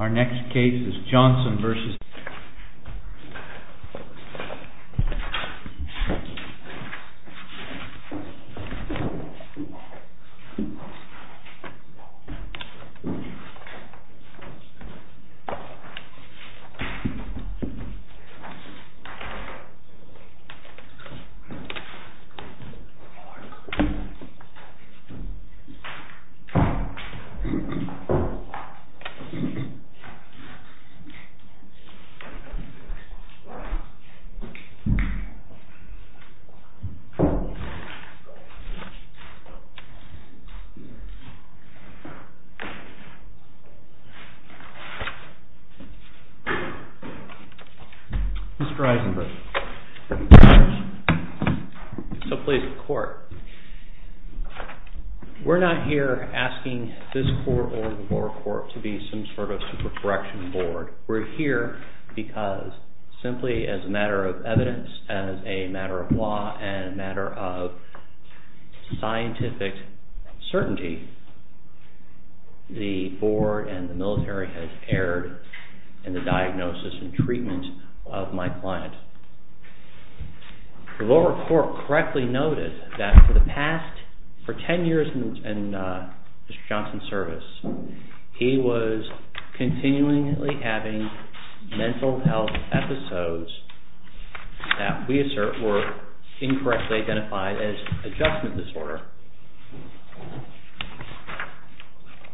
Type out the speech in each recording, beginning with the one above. Our next case is Johnson v. United States. Mr. Eisenberg, so please, the court, we're not here asking this court or the lower court to be some sort of supercorrection board. We're here because simply as a matter of evidence, as a matter of law, and a matter of scientific certainty, the board and the military has erred in the diagnosis and treatment of my client. The lower court correctly noted that for the past, for ten years in Mr. Johnson's service, he was continually having mental health episodes that we assert were incorrectly identified as adjustment disorder.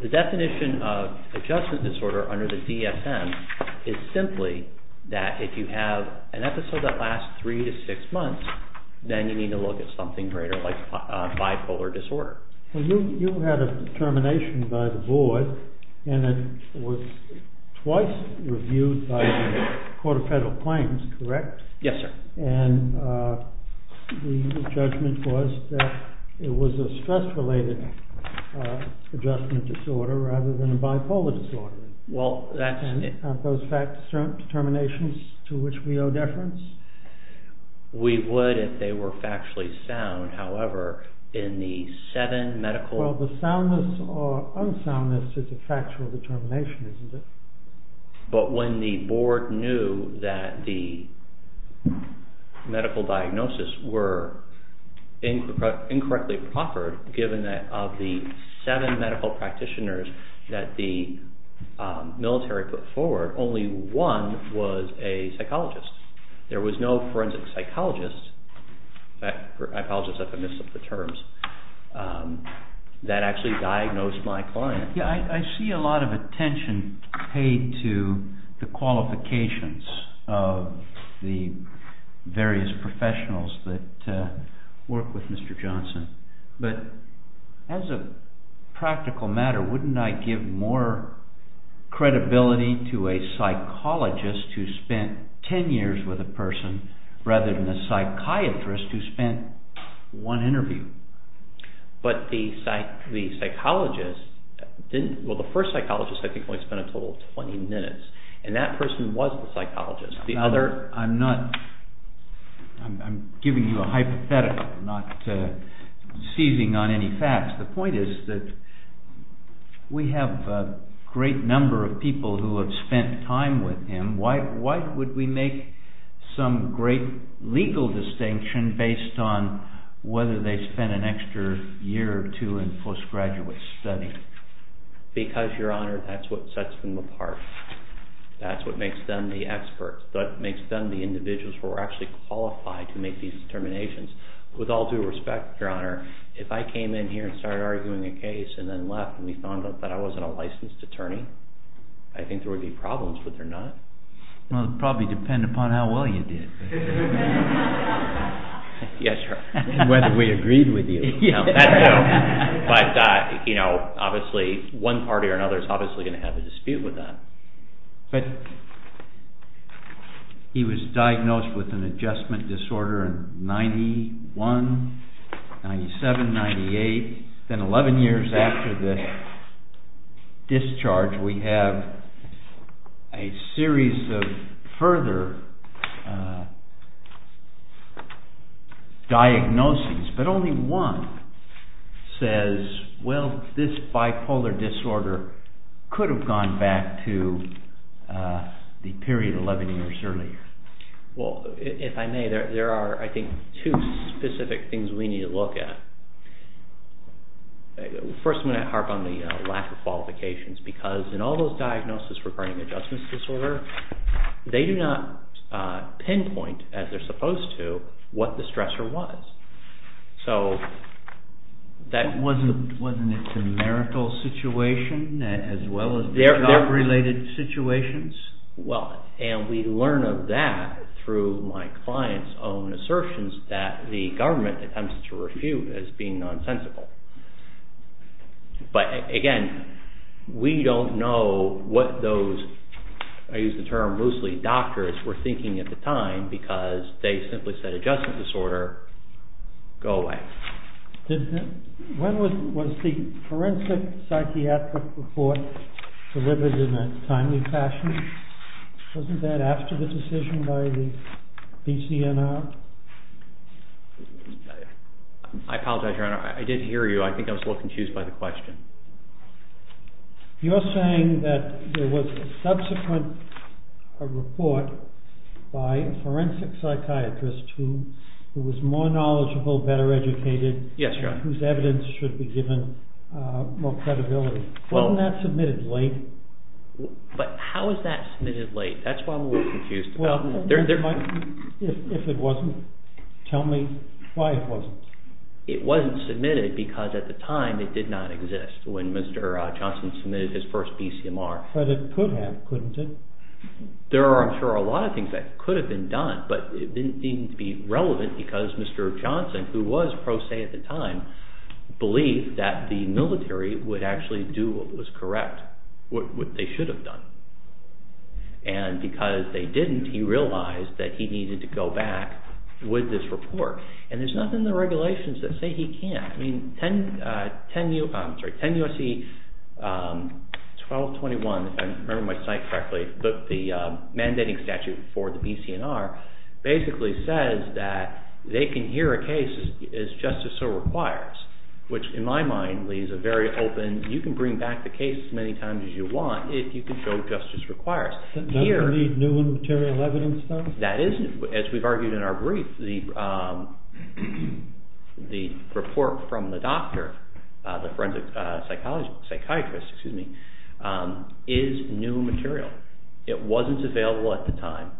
The definition of adjustment disorder under the DSM is simply that if you have an episode that lasts three to six months, then you need to look at something greater like bipolar disorder. Well, you had a determination by the board and it was twice reviewed by the Court of Federal Claims, correct? Yes, sir. And the judgment was that it was a stress-related adjustment disorder rather than a bipolar disorder. Aren't those fact-determinations to which we owe deference? We would if they were factually sound. However, in the seven medical... Well, the soundness or unsoundness is a factual determination, isn't it? But when the board knew that the medical diagnosis were incorrectly proffered, of the seven medical practitioners that the military put forward, only one was a psychologist. There was no forensic psychologist, in fact, I apologize if I miss the terms, that actually diagnosed my client. Yes, I see a lot of attention paid to the qualifications of the various professionals that work with Mr. Johnson, but as a practical matter, wouldn't I give more credibility to a psychologist who spent ten years with a person rather than a psychiatrist who spent one interview? But the psychologist didn't... Well, the first psychologist, I think, only spent a total of 20 minutes, and that person was the psychologist. I'm not... I'm giving you a hypothetical, not seizing on any facts. The point is that we have a great number of people who have spent time with him. Why would we make some great legal distinction based on whether they spent an extra year or two in postgraduate study? Because, Your Honor, that's what sets them apart. That's what makes them the experts. That's what makes them the individuals who are actually qualified to make these determinations. With all due respect, Your Honor, if I came in here and started arguing a case and then left, and we found out that I wasn't a licensed attorney, I think there would be problems, would there not? Well, it would probably depend upon how well you did. Yes, Your Honor. And whether we agreed with you. But obviously, one party or another is obviously going to have a dispute with that. But he was diagnosed with an adjustment disorder in 91, 97, 98. Then 11 years after the discharge, we have a series of further diagnoses, but only one says, well, this bipolar disorder could have gone back to the period 11 years earlier. Well, if I may, there are, I think, two specific things we need to look at. First, I'm going to harp on the lack of qualifications, because in all those diagnoses regarding adjustment disorder, they do not pinpoint, as they're supposed to, what the stressor was. Wasn't it a miracle situation, as well as their related situations? Well, and we learn of that through my client's own assertions that the government attempts to refute as being nonsensical. But again, we don't know what those, I use the term loosely, doctors were thinking at the time, because they simply said adjustment disorder, go away. When was the forensic psychiatric report delivered in a timely fashion? Wasn't that after the decision by the BCNR? I apologize, Your Honor, I did hear you. I think I was a little confused by the question. You're saying that there was a subsequent report by a forensic psychiatrist who was more knowledgeable, better educated, whose evidence should be given more credibility. Wasn't that submitted late? But how is that submitted late? That's what I'm a little confused about. If it wasn't, tell me why it wasn't. It wasn't submitted because at the time it did not exist, when Mr. Johnson submitted his first BCMR. But it could have, couldn't it? There are, I'm sure, a lot of things that could have been done, but it didn't seem to be relevant because Mr. Johnson, who was pro se at the time, believed that the military would actually do what was correct, what they should have done. And because they didn't, he realized that he needed to go back with this report. And there's nothing in the regulations that say he can't. I mean, 10 U.S.C. 1221, if I remember my site correctly, the mandating statute for the BCNR basically says that they can hear a case as just as so requires, which in my mind leaves a very open, you can bring back the case as many times as you want if you can show just as requires. Does it need new and material evidence, though? That is, as we've argued in our brief, the report from the doctor, the forensic psychiatrist, is new material. It wasn't available at the time,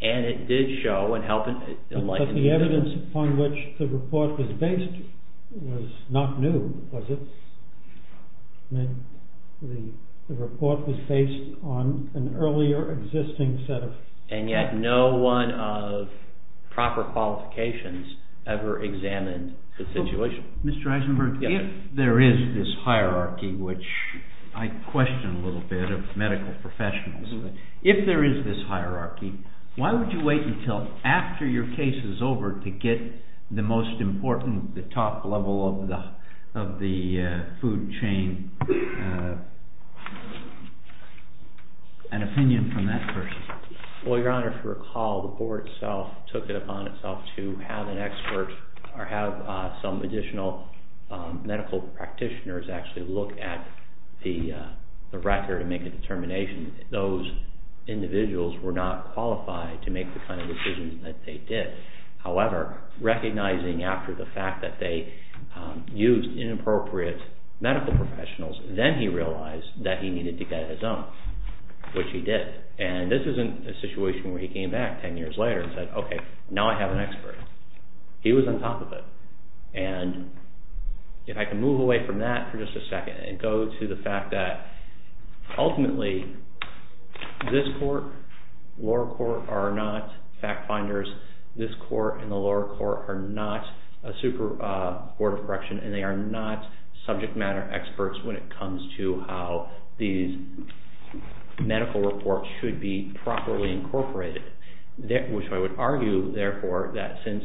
and it did show and help enlighten... But the evidence upon which the report was based was not new, was it? The report was based on an earlier existing set of... And yet no one of proper qualifications ever examined the situation. Mr. Eisenberg, if there is this hierarchy, which I question a little bit of medical professionals, if there is this hierarchy, why would you wait until after your case is over to get the most important, the top level of the food chain, an opinion from that person? Well, Your Honor, if you recall, the board itself took it upon itself to have an expert or have some additional medical practitioners actually look at the record and make a determination that those individuals were not qualified to make the kind of decisions that they did. However, recognizing after the fact that they used inappropriate medical professionals, then he realized that he needed to get his own, which he did. And this isn't a situation where he came back ten years later and said, okay, now I have an expert. He was on top of it. And if I can move away from that for just a second and go to the fact that ultimately, this court, lower court are not fact finders. This court and the lower court are not a super board of correction and they are not subject matter experts when it comes to how these medical reports should be properly incorporated. Which I would argue, therefore, that since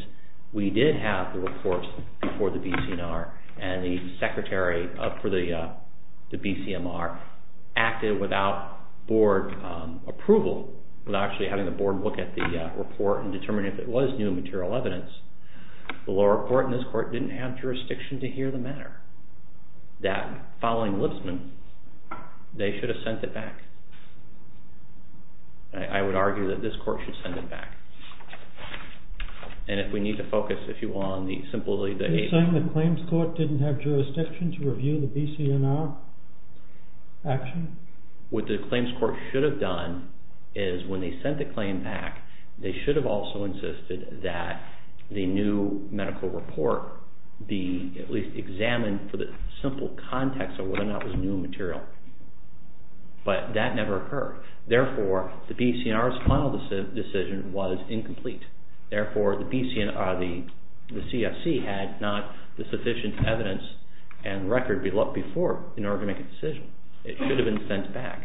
we did have the reports before the BCNR and the secretary for the BCNR acted without board approval, without actually having the board look at the report and determine if it was new material evidence, the lower court and this court didn't have jurisdiction to hear the matter. That following Lipsman, they should have sent it back. I would argue that this court should send it back. And if we need to focus, if you want, on the simply the… Are you saying the claims court didn't have jurisdiction to review the BCNR action? What the claims court should have done is when they sent the claim back, they should have also insisted that the new medical report be at least examined for the simple context of whether or not it was new material. But that never occurred. Therefore, the BCNR's final decision was incomplete. Therefore, the BCNR, the CSC had not the sufficient evidence and record before in order to make a decision. It should have been sent back.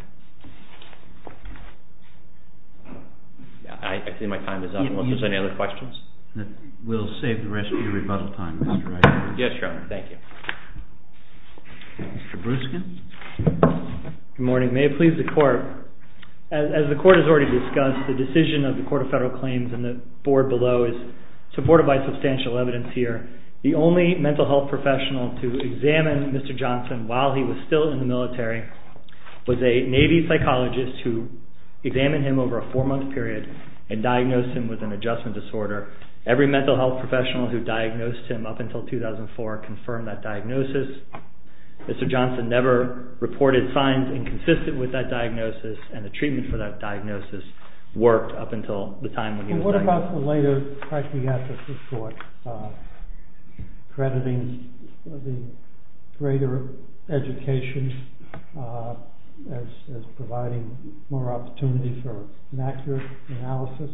I think my time is up. Unless there's any other questions? We'll save the rest of your rebuttal time, Mr. Reichert. Yes, Your Honor. Thank you. Mr. Bruskin. Good morning. May it please the court. As the court has already discussed, the decision of the Court of Federal Claims and the board below is supported by substantial evidence here. The only mental health professional to examine Mr. Johnson while he was still in the military was a Navy psychologist who examined him over a four-month period and diagnosed him with an adjustment disorder. Every mental health professional who diagnosed him up until 2004 confirmed that diagnosis. Mr. Johnson never reported signs inconsistent with that diagnosis and the treatment for that diagnosis worked up until the time when he was diagnosed. What about the later psychiatric report, crediting the greater education as providing more opportunity for an accurate analysis?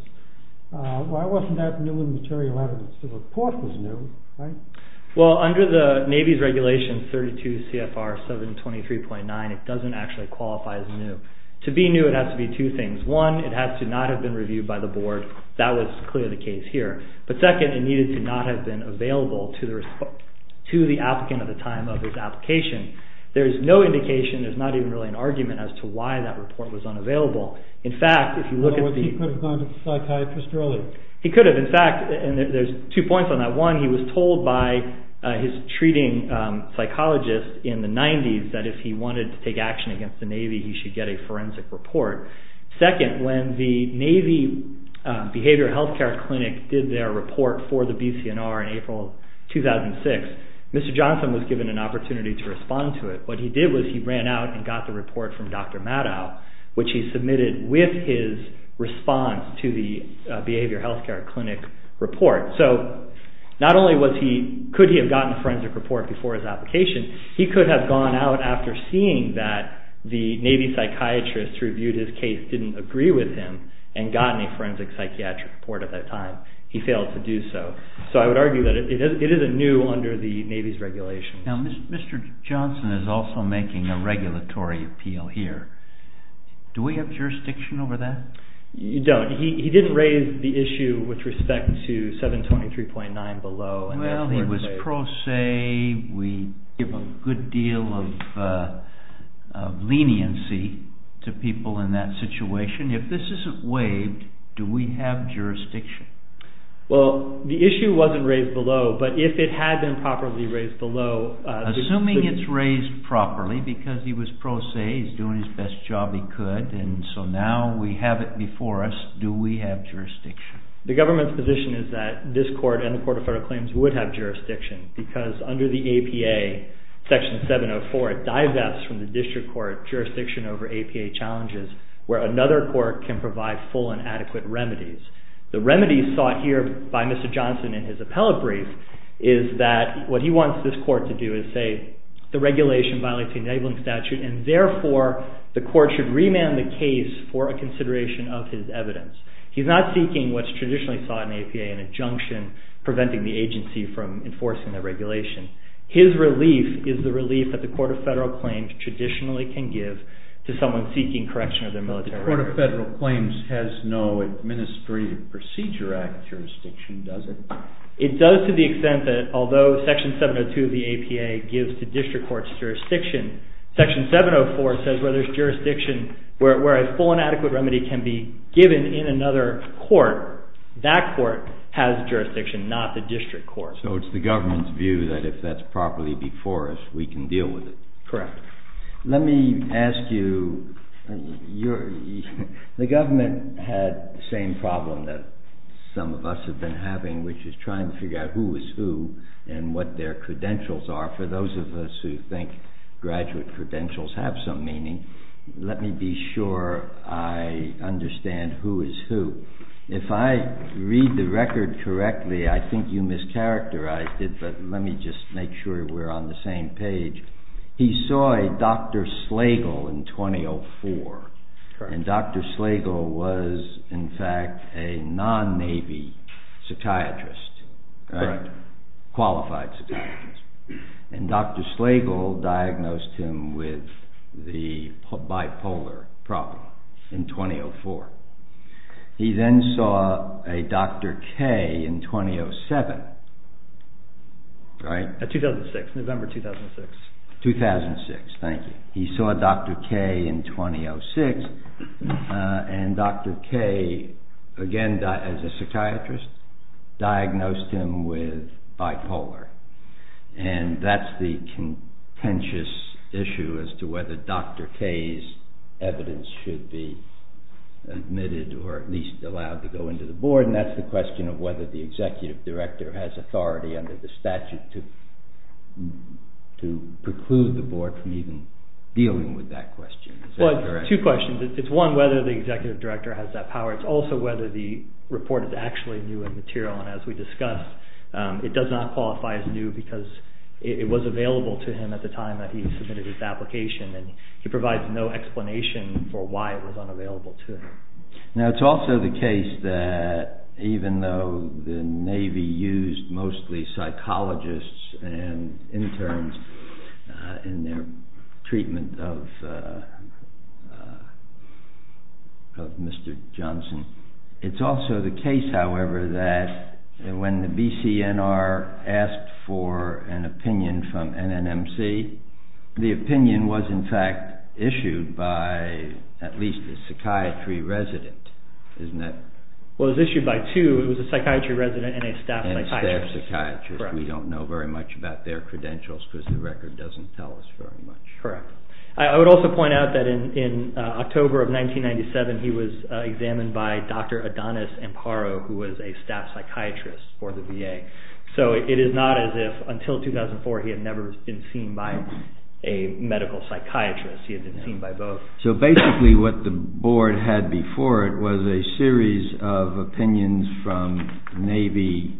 Why wasn't that new in material evidence? The report was new, right? Well, under the Navy's regulation 32 CFR 723.9, it doesn't actually qualify as new. To be new, it has to be two things. One, it has to not have been reviewed by the board. That was clearly the case here. But second, it needed to not have been available to the applicant at the time of his application. There's no indication, there's not even really an argument as to why that report was unavailable. In fact, if you look at the… In other words, he could have gone to the psychiatrist early. He could have. In fact, there's two points on that. One, he was told by his treating psychologist in the 90s that if he wanted to take action against the Navy, he should get a forensic report. Second, when the Navy Behavioral Health Care Clinic did their report for the BCNR in April 2006, Mr. Johnson was given an opportunity to respond to it. What he did was he ran out and got the report from Dr. Maddow, which he submitted with his response to the Behavioral Health Care Clinic report. So, not only could he have gotten a forensic report before his application, he could have gone out after seeing that the Navy psychiatrist who reviewed his case didn't agree with him and gotten a forensic psychiatric report at that time. He failed to do so. So, I would argue that it is anew under the Navy's regulations. Now, Mr. Johnson is also making a regulatory appeal here. Do we have jurisdiction over that? You don't. He didn't raise the issue with respect to 723.9 below. Well, he was pro se. We give a good deal of leniency to people in that situation. If this isn't waived, do we have jurisdiction? Well, the issue wasn't raised below, but if it had been properly raised below… Assuming it's raised properly because he was pro se, he's doing his best job he could, and so now we have it before us, do we have jurisdiction? The government's position is that this court and the Court of Federal Claims would have jurisdiction because under the APA, Section 704, it divests from the district court jurisdiction over APA challenges where another court can provide full and adequate remedies. The remedies sought here by Mr. Johnson in his appellate brief is that what he wants this court to do is say the regulation violates the enabling statute and therefore the court should remand the case for a consideration of his evidence. He's not seeking what's traditionally sought in APA, an injunction preventing the agency from enforcing the regulation. His relief is the relief that the Court of Federal Claims traditionally can give to someone seeking correction of their military record. The Court of Federal Claims has no Administrative Procedure Act jurisdiction, does it? It does to the extent that although Section 702 of the APA gives to district courts jurisdiction, Section 704 says where there's jurisdiction, where a full and adequate remedy can be given in another court, that court has jurisdiction, not the district court. So it's the government's view that if that's properly before us, we can deal with it. Correct. Let me ask you, the government had the same problem that some of us have been having, which is trying to figure out who is who and what their credentials are. For those of us who think graduate credentials have some meaning, let me be sure I understand who is who. If I read the record correctly, I think you mischaracterized it, but let me just make sure we're on the same page. He saw a Dr. Slagle in 2004. Correct. And Dr. Slagle was in fact a non-Navy psychiatrist. Correct. A qualified psychiatrist. And Dr. Slagle diagnosed him with the bipolar problem in 2004. He then saw a Dr. Kaye in 2007, right? 2006, November 2006. 2006, thank you. He saw Dr. Kaye in 2006, and Dr. Kaye, again as a psychiatrist, diagnosed him with bipolar. And that's the contentious issue as to whether Dr. Kaye's evidence should be admitted or at least allowed to go into the board. And that's the question of whether the executive director has authority under the statute to preclude the board from even dealing with that question. Two questions. It's one, whether the executive director has that power. It's also whether the report is actually new in material, and as we discussed, it does not qualify as new because it was available to him at the time that he submitted his application, and he provides no explanation for why it was unavailable to him. Now, it's also the case that even though the Navy used mostly psychologists and interns in their treatment of Mr. Johnson, it's also the case, however, that when the BCNR asked for an opinion from NNMC, the opinion was in fact issued by at least a psychiatry resident, isn't it? Well, it was issued by two. It was a psychiatry resident and a staff psychiatrist. And a staff psychiatrist. We don't know very much about their credentials because the record doesn't tell us very much. Correct. I would also point out that in October of 1997, he was examined by Dr. Adonis Amparo, who was a staff psychiatrist for the VA. So it is not as if until 2004 he had never been seen by a medical psychiatrist. He had been seen by both. So basically what the board had before it was a series of opinions from Navy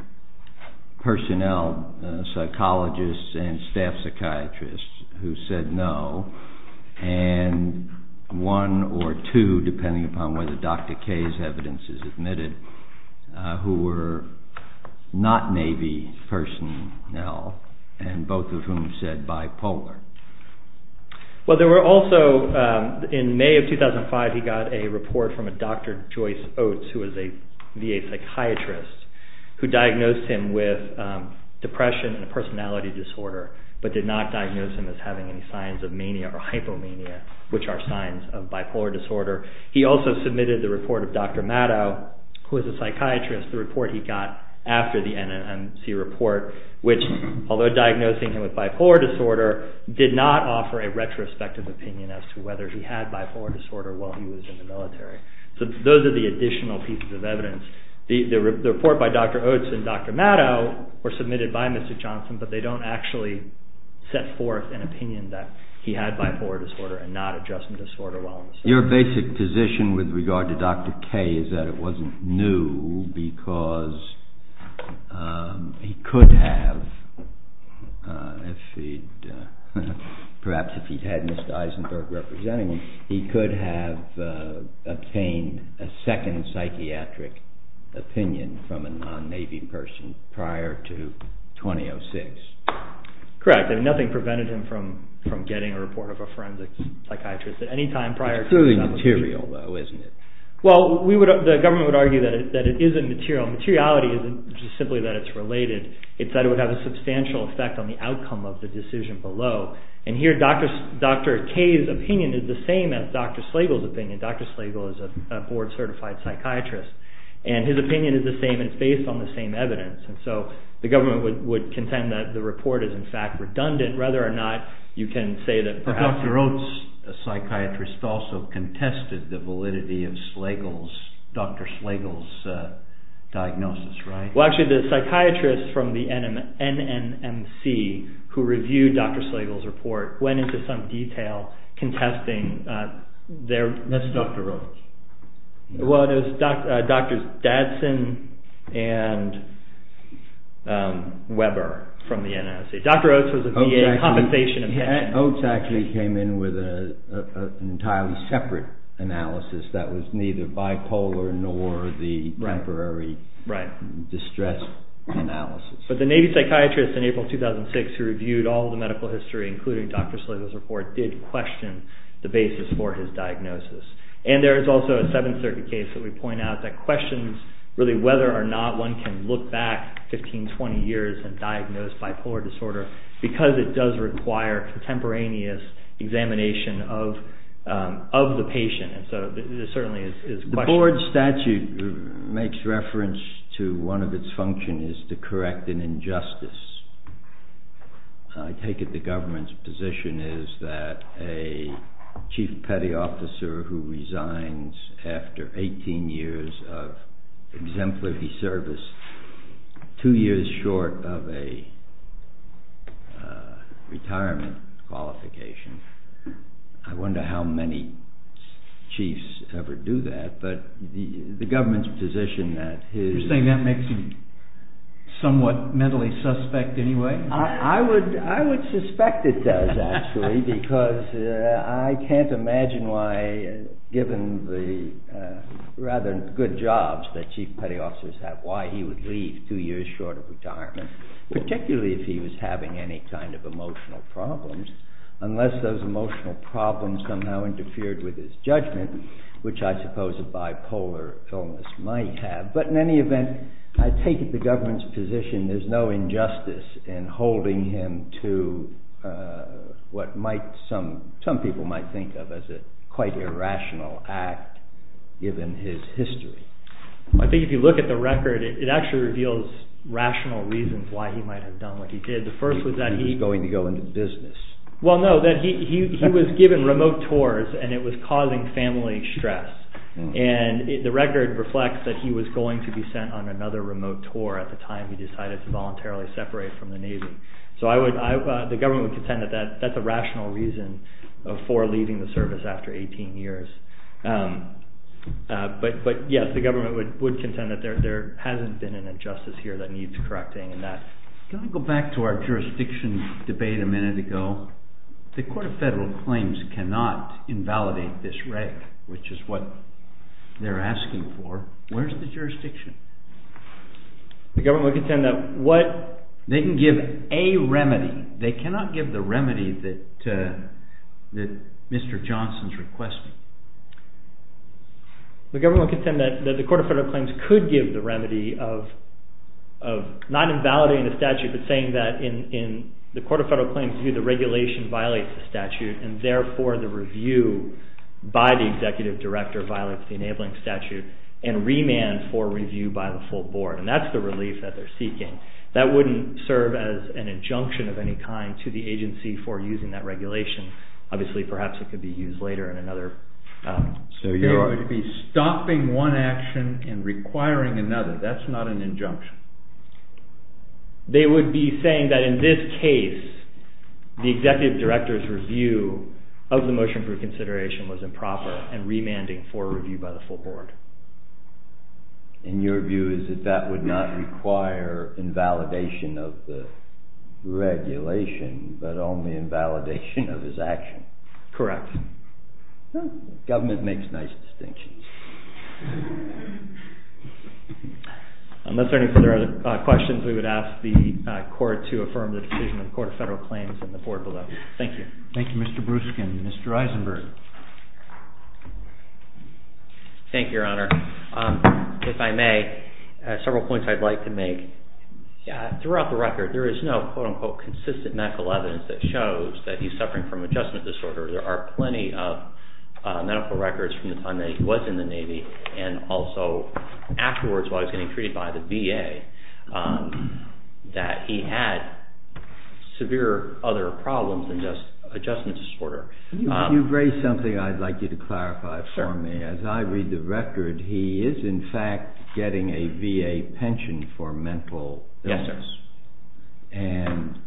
personnel psychologists and staff psychiatrists who said no, and one or two, depending upon whether Dr. Kaye's evidence is admitted, who were not Navy personnel, and both of whom said bipolar. Well, there were also, in May of 2005, he got a report from a Dr. Joyce Oates, who was a VA psychiatrist, who diagnosed him with depression and a personality disorder, but did not diagnose him as having any signs of mania or hypomania, which are signs of bipolar disorder. He also submitted the report of Dr. Matto, who was a psychiatrist, the report he got after the NNMC report, which, although diagnosing him with bipolar disorder, did not offer a retrospective opinion as to whether he had bipolar disorder while he was in the military. So those are the additional pieces of evidence. The report by Dr. Oates and Dr. Matto were submitted by Mr. Johnson, but they don't actually set forth an opinion that he had bipolar disorder and not adjustment disorder. Your basic position with regard to Dr. Kaye is that it wasn't new because he could have, perhaps if he'd had Mr. Eisenberg representing him, he could have obtained a second psychiatric opinion from a non-Navy person prior to 2006. Correct. Nothing prevented him from getting a report of a forensic psychiatrist at any time prior to 2007. It's purely material, though, isn't it? Well, the government would argue that it isn't material. Materiality isn't just simply that it's related. It's that it would have a substantial effect on the outcome of the decision below. And here, Dr. Kaye's opinion is the same as Dr. Slagle's opinion. Dr. Slagle is a board-certified psychiatrist, and his opinion is the same, and it's based on the same evidence. And so the government would contend that the report is, in fact, redundant, whether or not you can say that perhaps... But Dr. Oates, a psychiatrist, also contested the validity of Dr. Slagle's diagnosis, right? Well, actually, the psychiatrist from the NNMC who reviewed Dr. Slagle's report went into some detail contesting their... And that's Dr. Oates. Well, it was Drs. Dadson and Weber from the NNMC. Dr. Oates was a VA compensation opinion. Oates actually came in with an entirely separate analysis that was neither bipolar nor the temporary distress analysis. But the Navy psychiatrist in April 2006 who reviewed all the medical history, including Dr. Slagle's report, did question the basis for his diagnosis. And there is also a Seventh Circuit case that we point out that questions, really, whether or not one can look back 15, 20 years and diagnose bipolar disorder because it does require contemporaneous examination of the patient. And so this certainly is questionable. The board statute makes reference to one of its functions is to correct an injustice. I take it the government's position is that a chief petty officer who resigns after 18 years of exemplary service, two years short of a retirement qualification. I wonder how many chiefs ever do that. But the government's position that his... I would suspect it does, actually, because I can't imagine why, given the rather good jobs that chief petty officers have, why he would leave two years short of retirement, particularly if he was having any kind of emotional problems, unless those emotional problems somehow interfered with his judgment, which I suppose a bipolar illness might have. But in any event, I take it the government's position there's no injustice in holding him to what some people might think of as a quite irrational act, given his history. I think if you look at the record, it actually reveals rational reasons why he might have done what he did. The first was that he... He was going to go into business. Well, no, that he was given remote tours, and it was causing family stress. And the record reflects that he was going to be sent on another remote tour at the time he decided to voluntarily separate from the Navy. So the government would contend that that's a rational reason for leaving the service after 18 years. But yes, the government would contend that there hasn't been an injustice here that needs correcting. Can I go back to our jurisdiction debate a minute ago? The Court of Federal Claims cannot invalidate this rec, which is what they're asking for. Where's the jurisdiction? The government would contend that what... They can give a remedy. They cannot give the remedy that Mr. Johnson's requesting. The government would contend that the Court of Federal Claims could give the remedy of not invalidating the statute, but saying that in the Court of Federal Claims view, the regulation violates the statute, and therefore the review by the executive director violates the enabling statute and remand for review by the full board. And that's the relief that they're seeking. That wouldn't serve as an injunction of any kind to the agency for using that regulation. Obviously, perhaps it could be used later in another... So you're... It would be stopping one action and requiring another. That's not an injunction. They would be saying that in this case, the executive director's review of the motion for consideration was improper and remanding for review by the full board. And your view is that that would not require invalidation of the regulation, but only invalidation of his action? Correct. Government makes nice distinctions. Unless there are any further questions, we would ask the court to affirm the decision of the Court of Federal Claims and the board below. Thank you. Thank you, Mr. Bruskin. Mr. Eisenberg. Thank you, Your Honor. If I may, several points I'd like to make. Throughout the record, there is no, quote-unquote, consistent medical evidence that shows that he's suffering from adjustment disorder. There are plenty of medical records from the time that he was in the Navy and also afterwards while he was getting treated by the VA that he had severe other problems than just adjustment disorder. You've raised something I'd like you to clarify for me. As I read the record, he is, in fact, getting a VA pension for mental illness. Yes, sir. And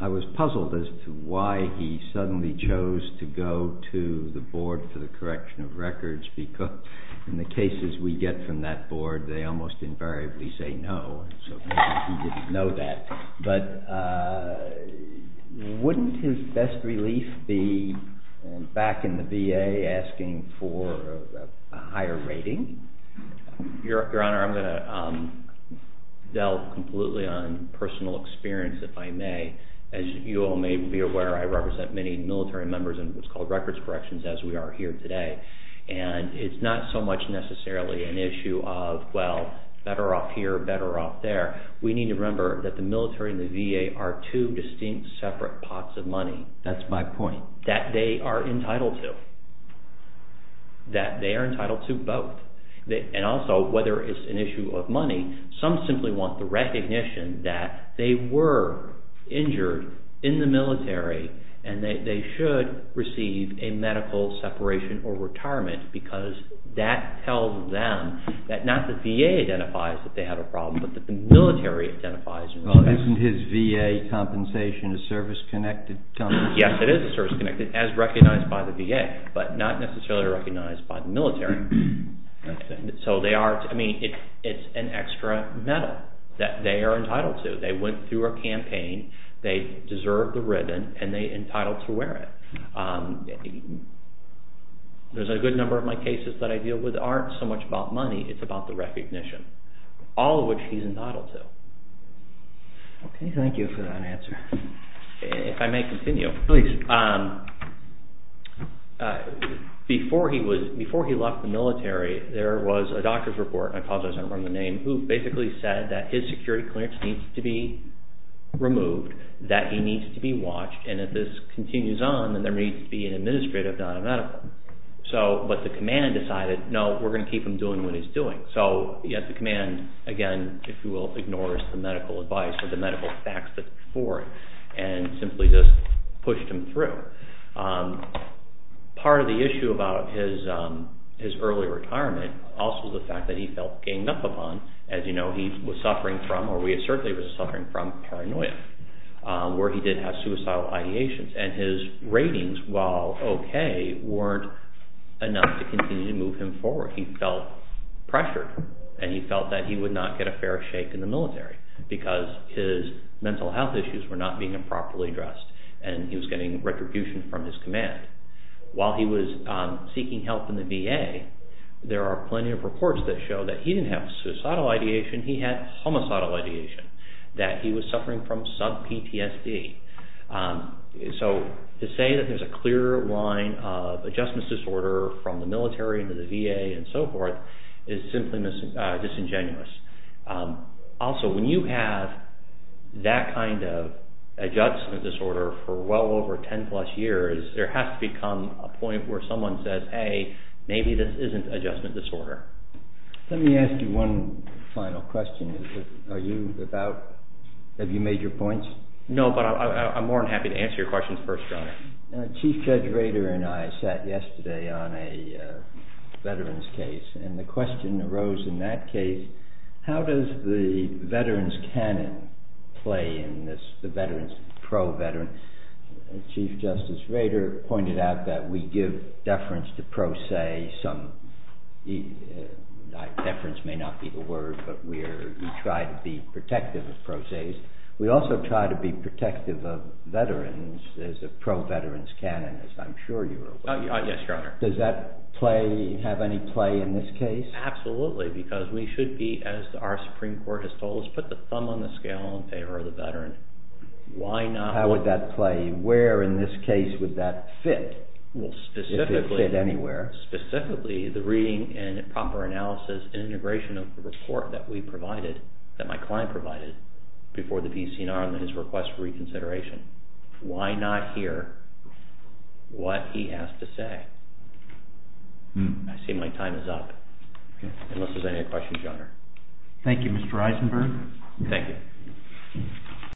I was puzzled as to why he suddenly chose to go to the board for the correction of records because in the cases we get from that board, they almost invariably say no. So maybe he didn't know that. But wouldn't his best relief be back in the VA asking for a higher rating? Your Honor, I'm going to delve completely on personal experience, if I may. As you all may be aware, I represent many military members in what's called records corrections, as we are here today. And it's not so much necessarily an issue of, well, better off here or better off there. We need to remember that the military and the VA are two distinct separate pots of money. That's my point. That they are entitled to. That they are entitled to both. And also, whether it's an issue of money, some simply want the recognition that they were injured in the military and that they should receive a medical separation or retirement because that tells them that not the VA identifies that they have a problem but that the military identifies a problem. Well, isn't his VA compensation a service-connected compensation? Yes, it is a service-connected, as recognized by the VA, but not necessarily recognized by the military. So they are – I mean, it's an extra medal that they are entitled to. They went through a campaign. They deserve the ribbon, and they're entitled to wear it. There's a good number of my cases that I deal with aren't so much about money. It's about the recognition. All of which he's entitled to. Okay, thank you for that answer. If I may continue. Please. Before he left the military, there was a doctor's report, and I apologize, I don't remember the name, who basically said that his security clearance needs to be removed, that he needs to be watched, and if this continues on, then there needs to be an administrative, not a medical. But the command decided, no, we're going to keep him doing what he's doing. So the command, again, if you will, ignores the medical advice or the medical facts before it, and simply just pushed him through. Part of the issue about his early retirement also is the fact that he felt ganged up upon. As you know, he was suffering from, or we assert that he was suffering from, paranoia, where he did have suicidal ideations. And his ratings, while okay, weren't enough to continue to move him forward. He felt pressured, and he felt that he would not get a fair shake in the military, because his mental health issues were not being improperly addressed, and he was getting retribution from his command. While he was seeking help in the VA, there are plenty of reports that show that he didn't have suicidal ideation, he had homicidal ideation, that he was suffering from sub-PTSD. So to say that there's a clear line of adjustment disorder from the military to the VA and so forth is simply disingenuous. Also, when you have that kind of adjustment disorder for well over 10 plus years, there has to become a point where someone says, hey, maybe this isn't adjustment disorder. Let me ask you one final question. Are you about, have you made your points? No, but I'm more than happy to answer your questions first, John. Chief Judge Rader and I sat yesterday on a veterans case, and the question arose in that case, how does the veterans canon play in this, the veterans, pro-veterans? Chief Justice Rader pointed out that we give deference to pro se, some, deference may not be the word, but we try to be protective of pro se's. We also try to be protective of veterans as a pro-veterans canon, as I'm sure you were aware. Yes, Your Honor. Does that play, have any play in this case? Absolutely, because we should be, as our Supreme Court has told us, put the thumb on the scale in favor of the veteran. Why not? How would that play? Where in this case would that fit? Well, specifically. If it fit anywhere. Specifically, the reading and proper analysis and integration of the report that we provided, that my client provided before the VCNR and his request for reconsideration. Why not hear what he has to say? I see my time is up. Unless there's any other questions, Your Honor. Thank you, Mr. Eisenberg. Thank you.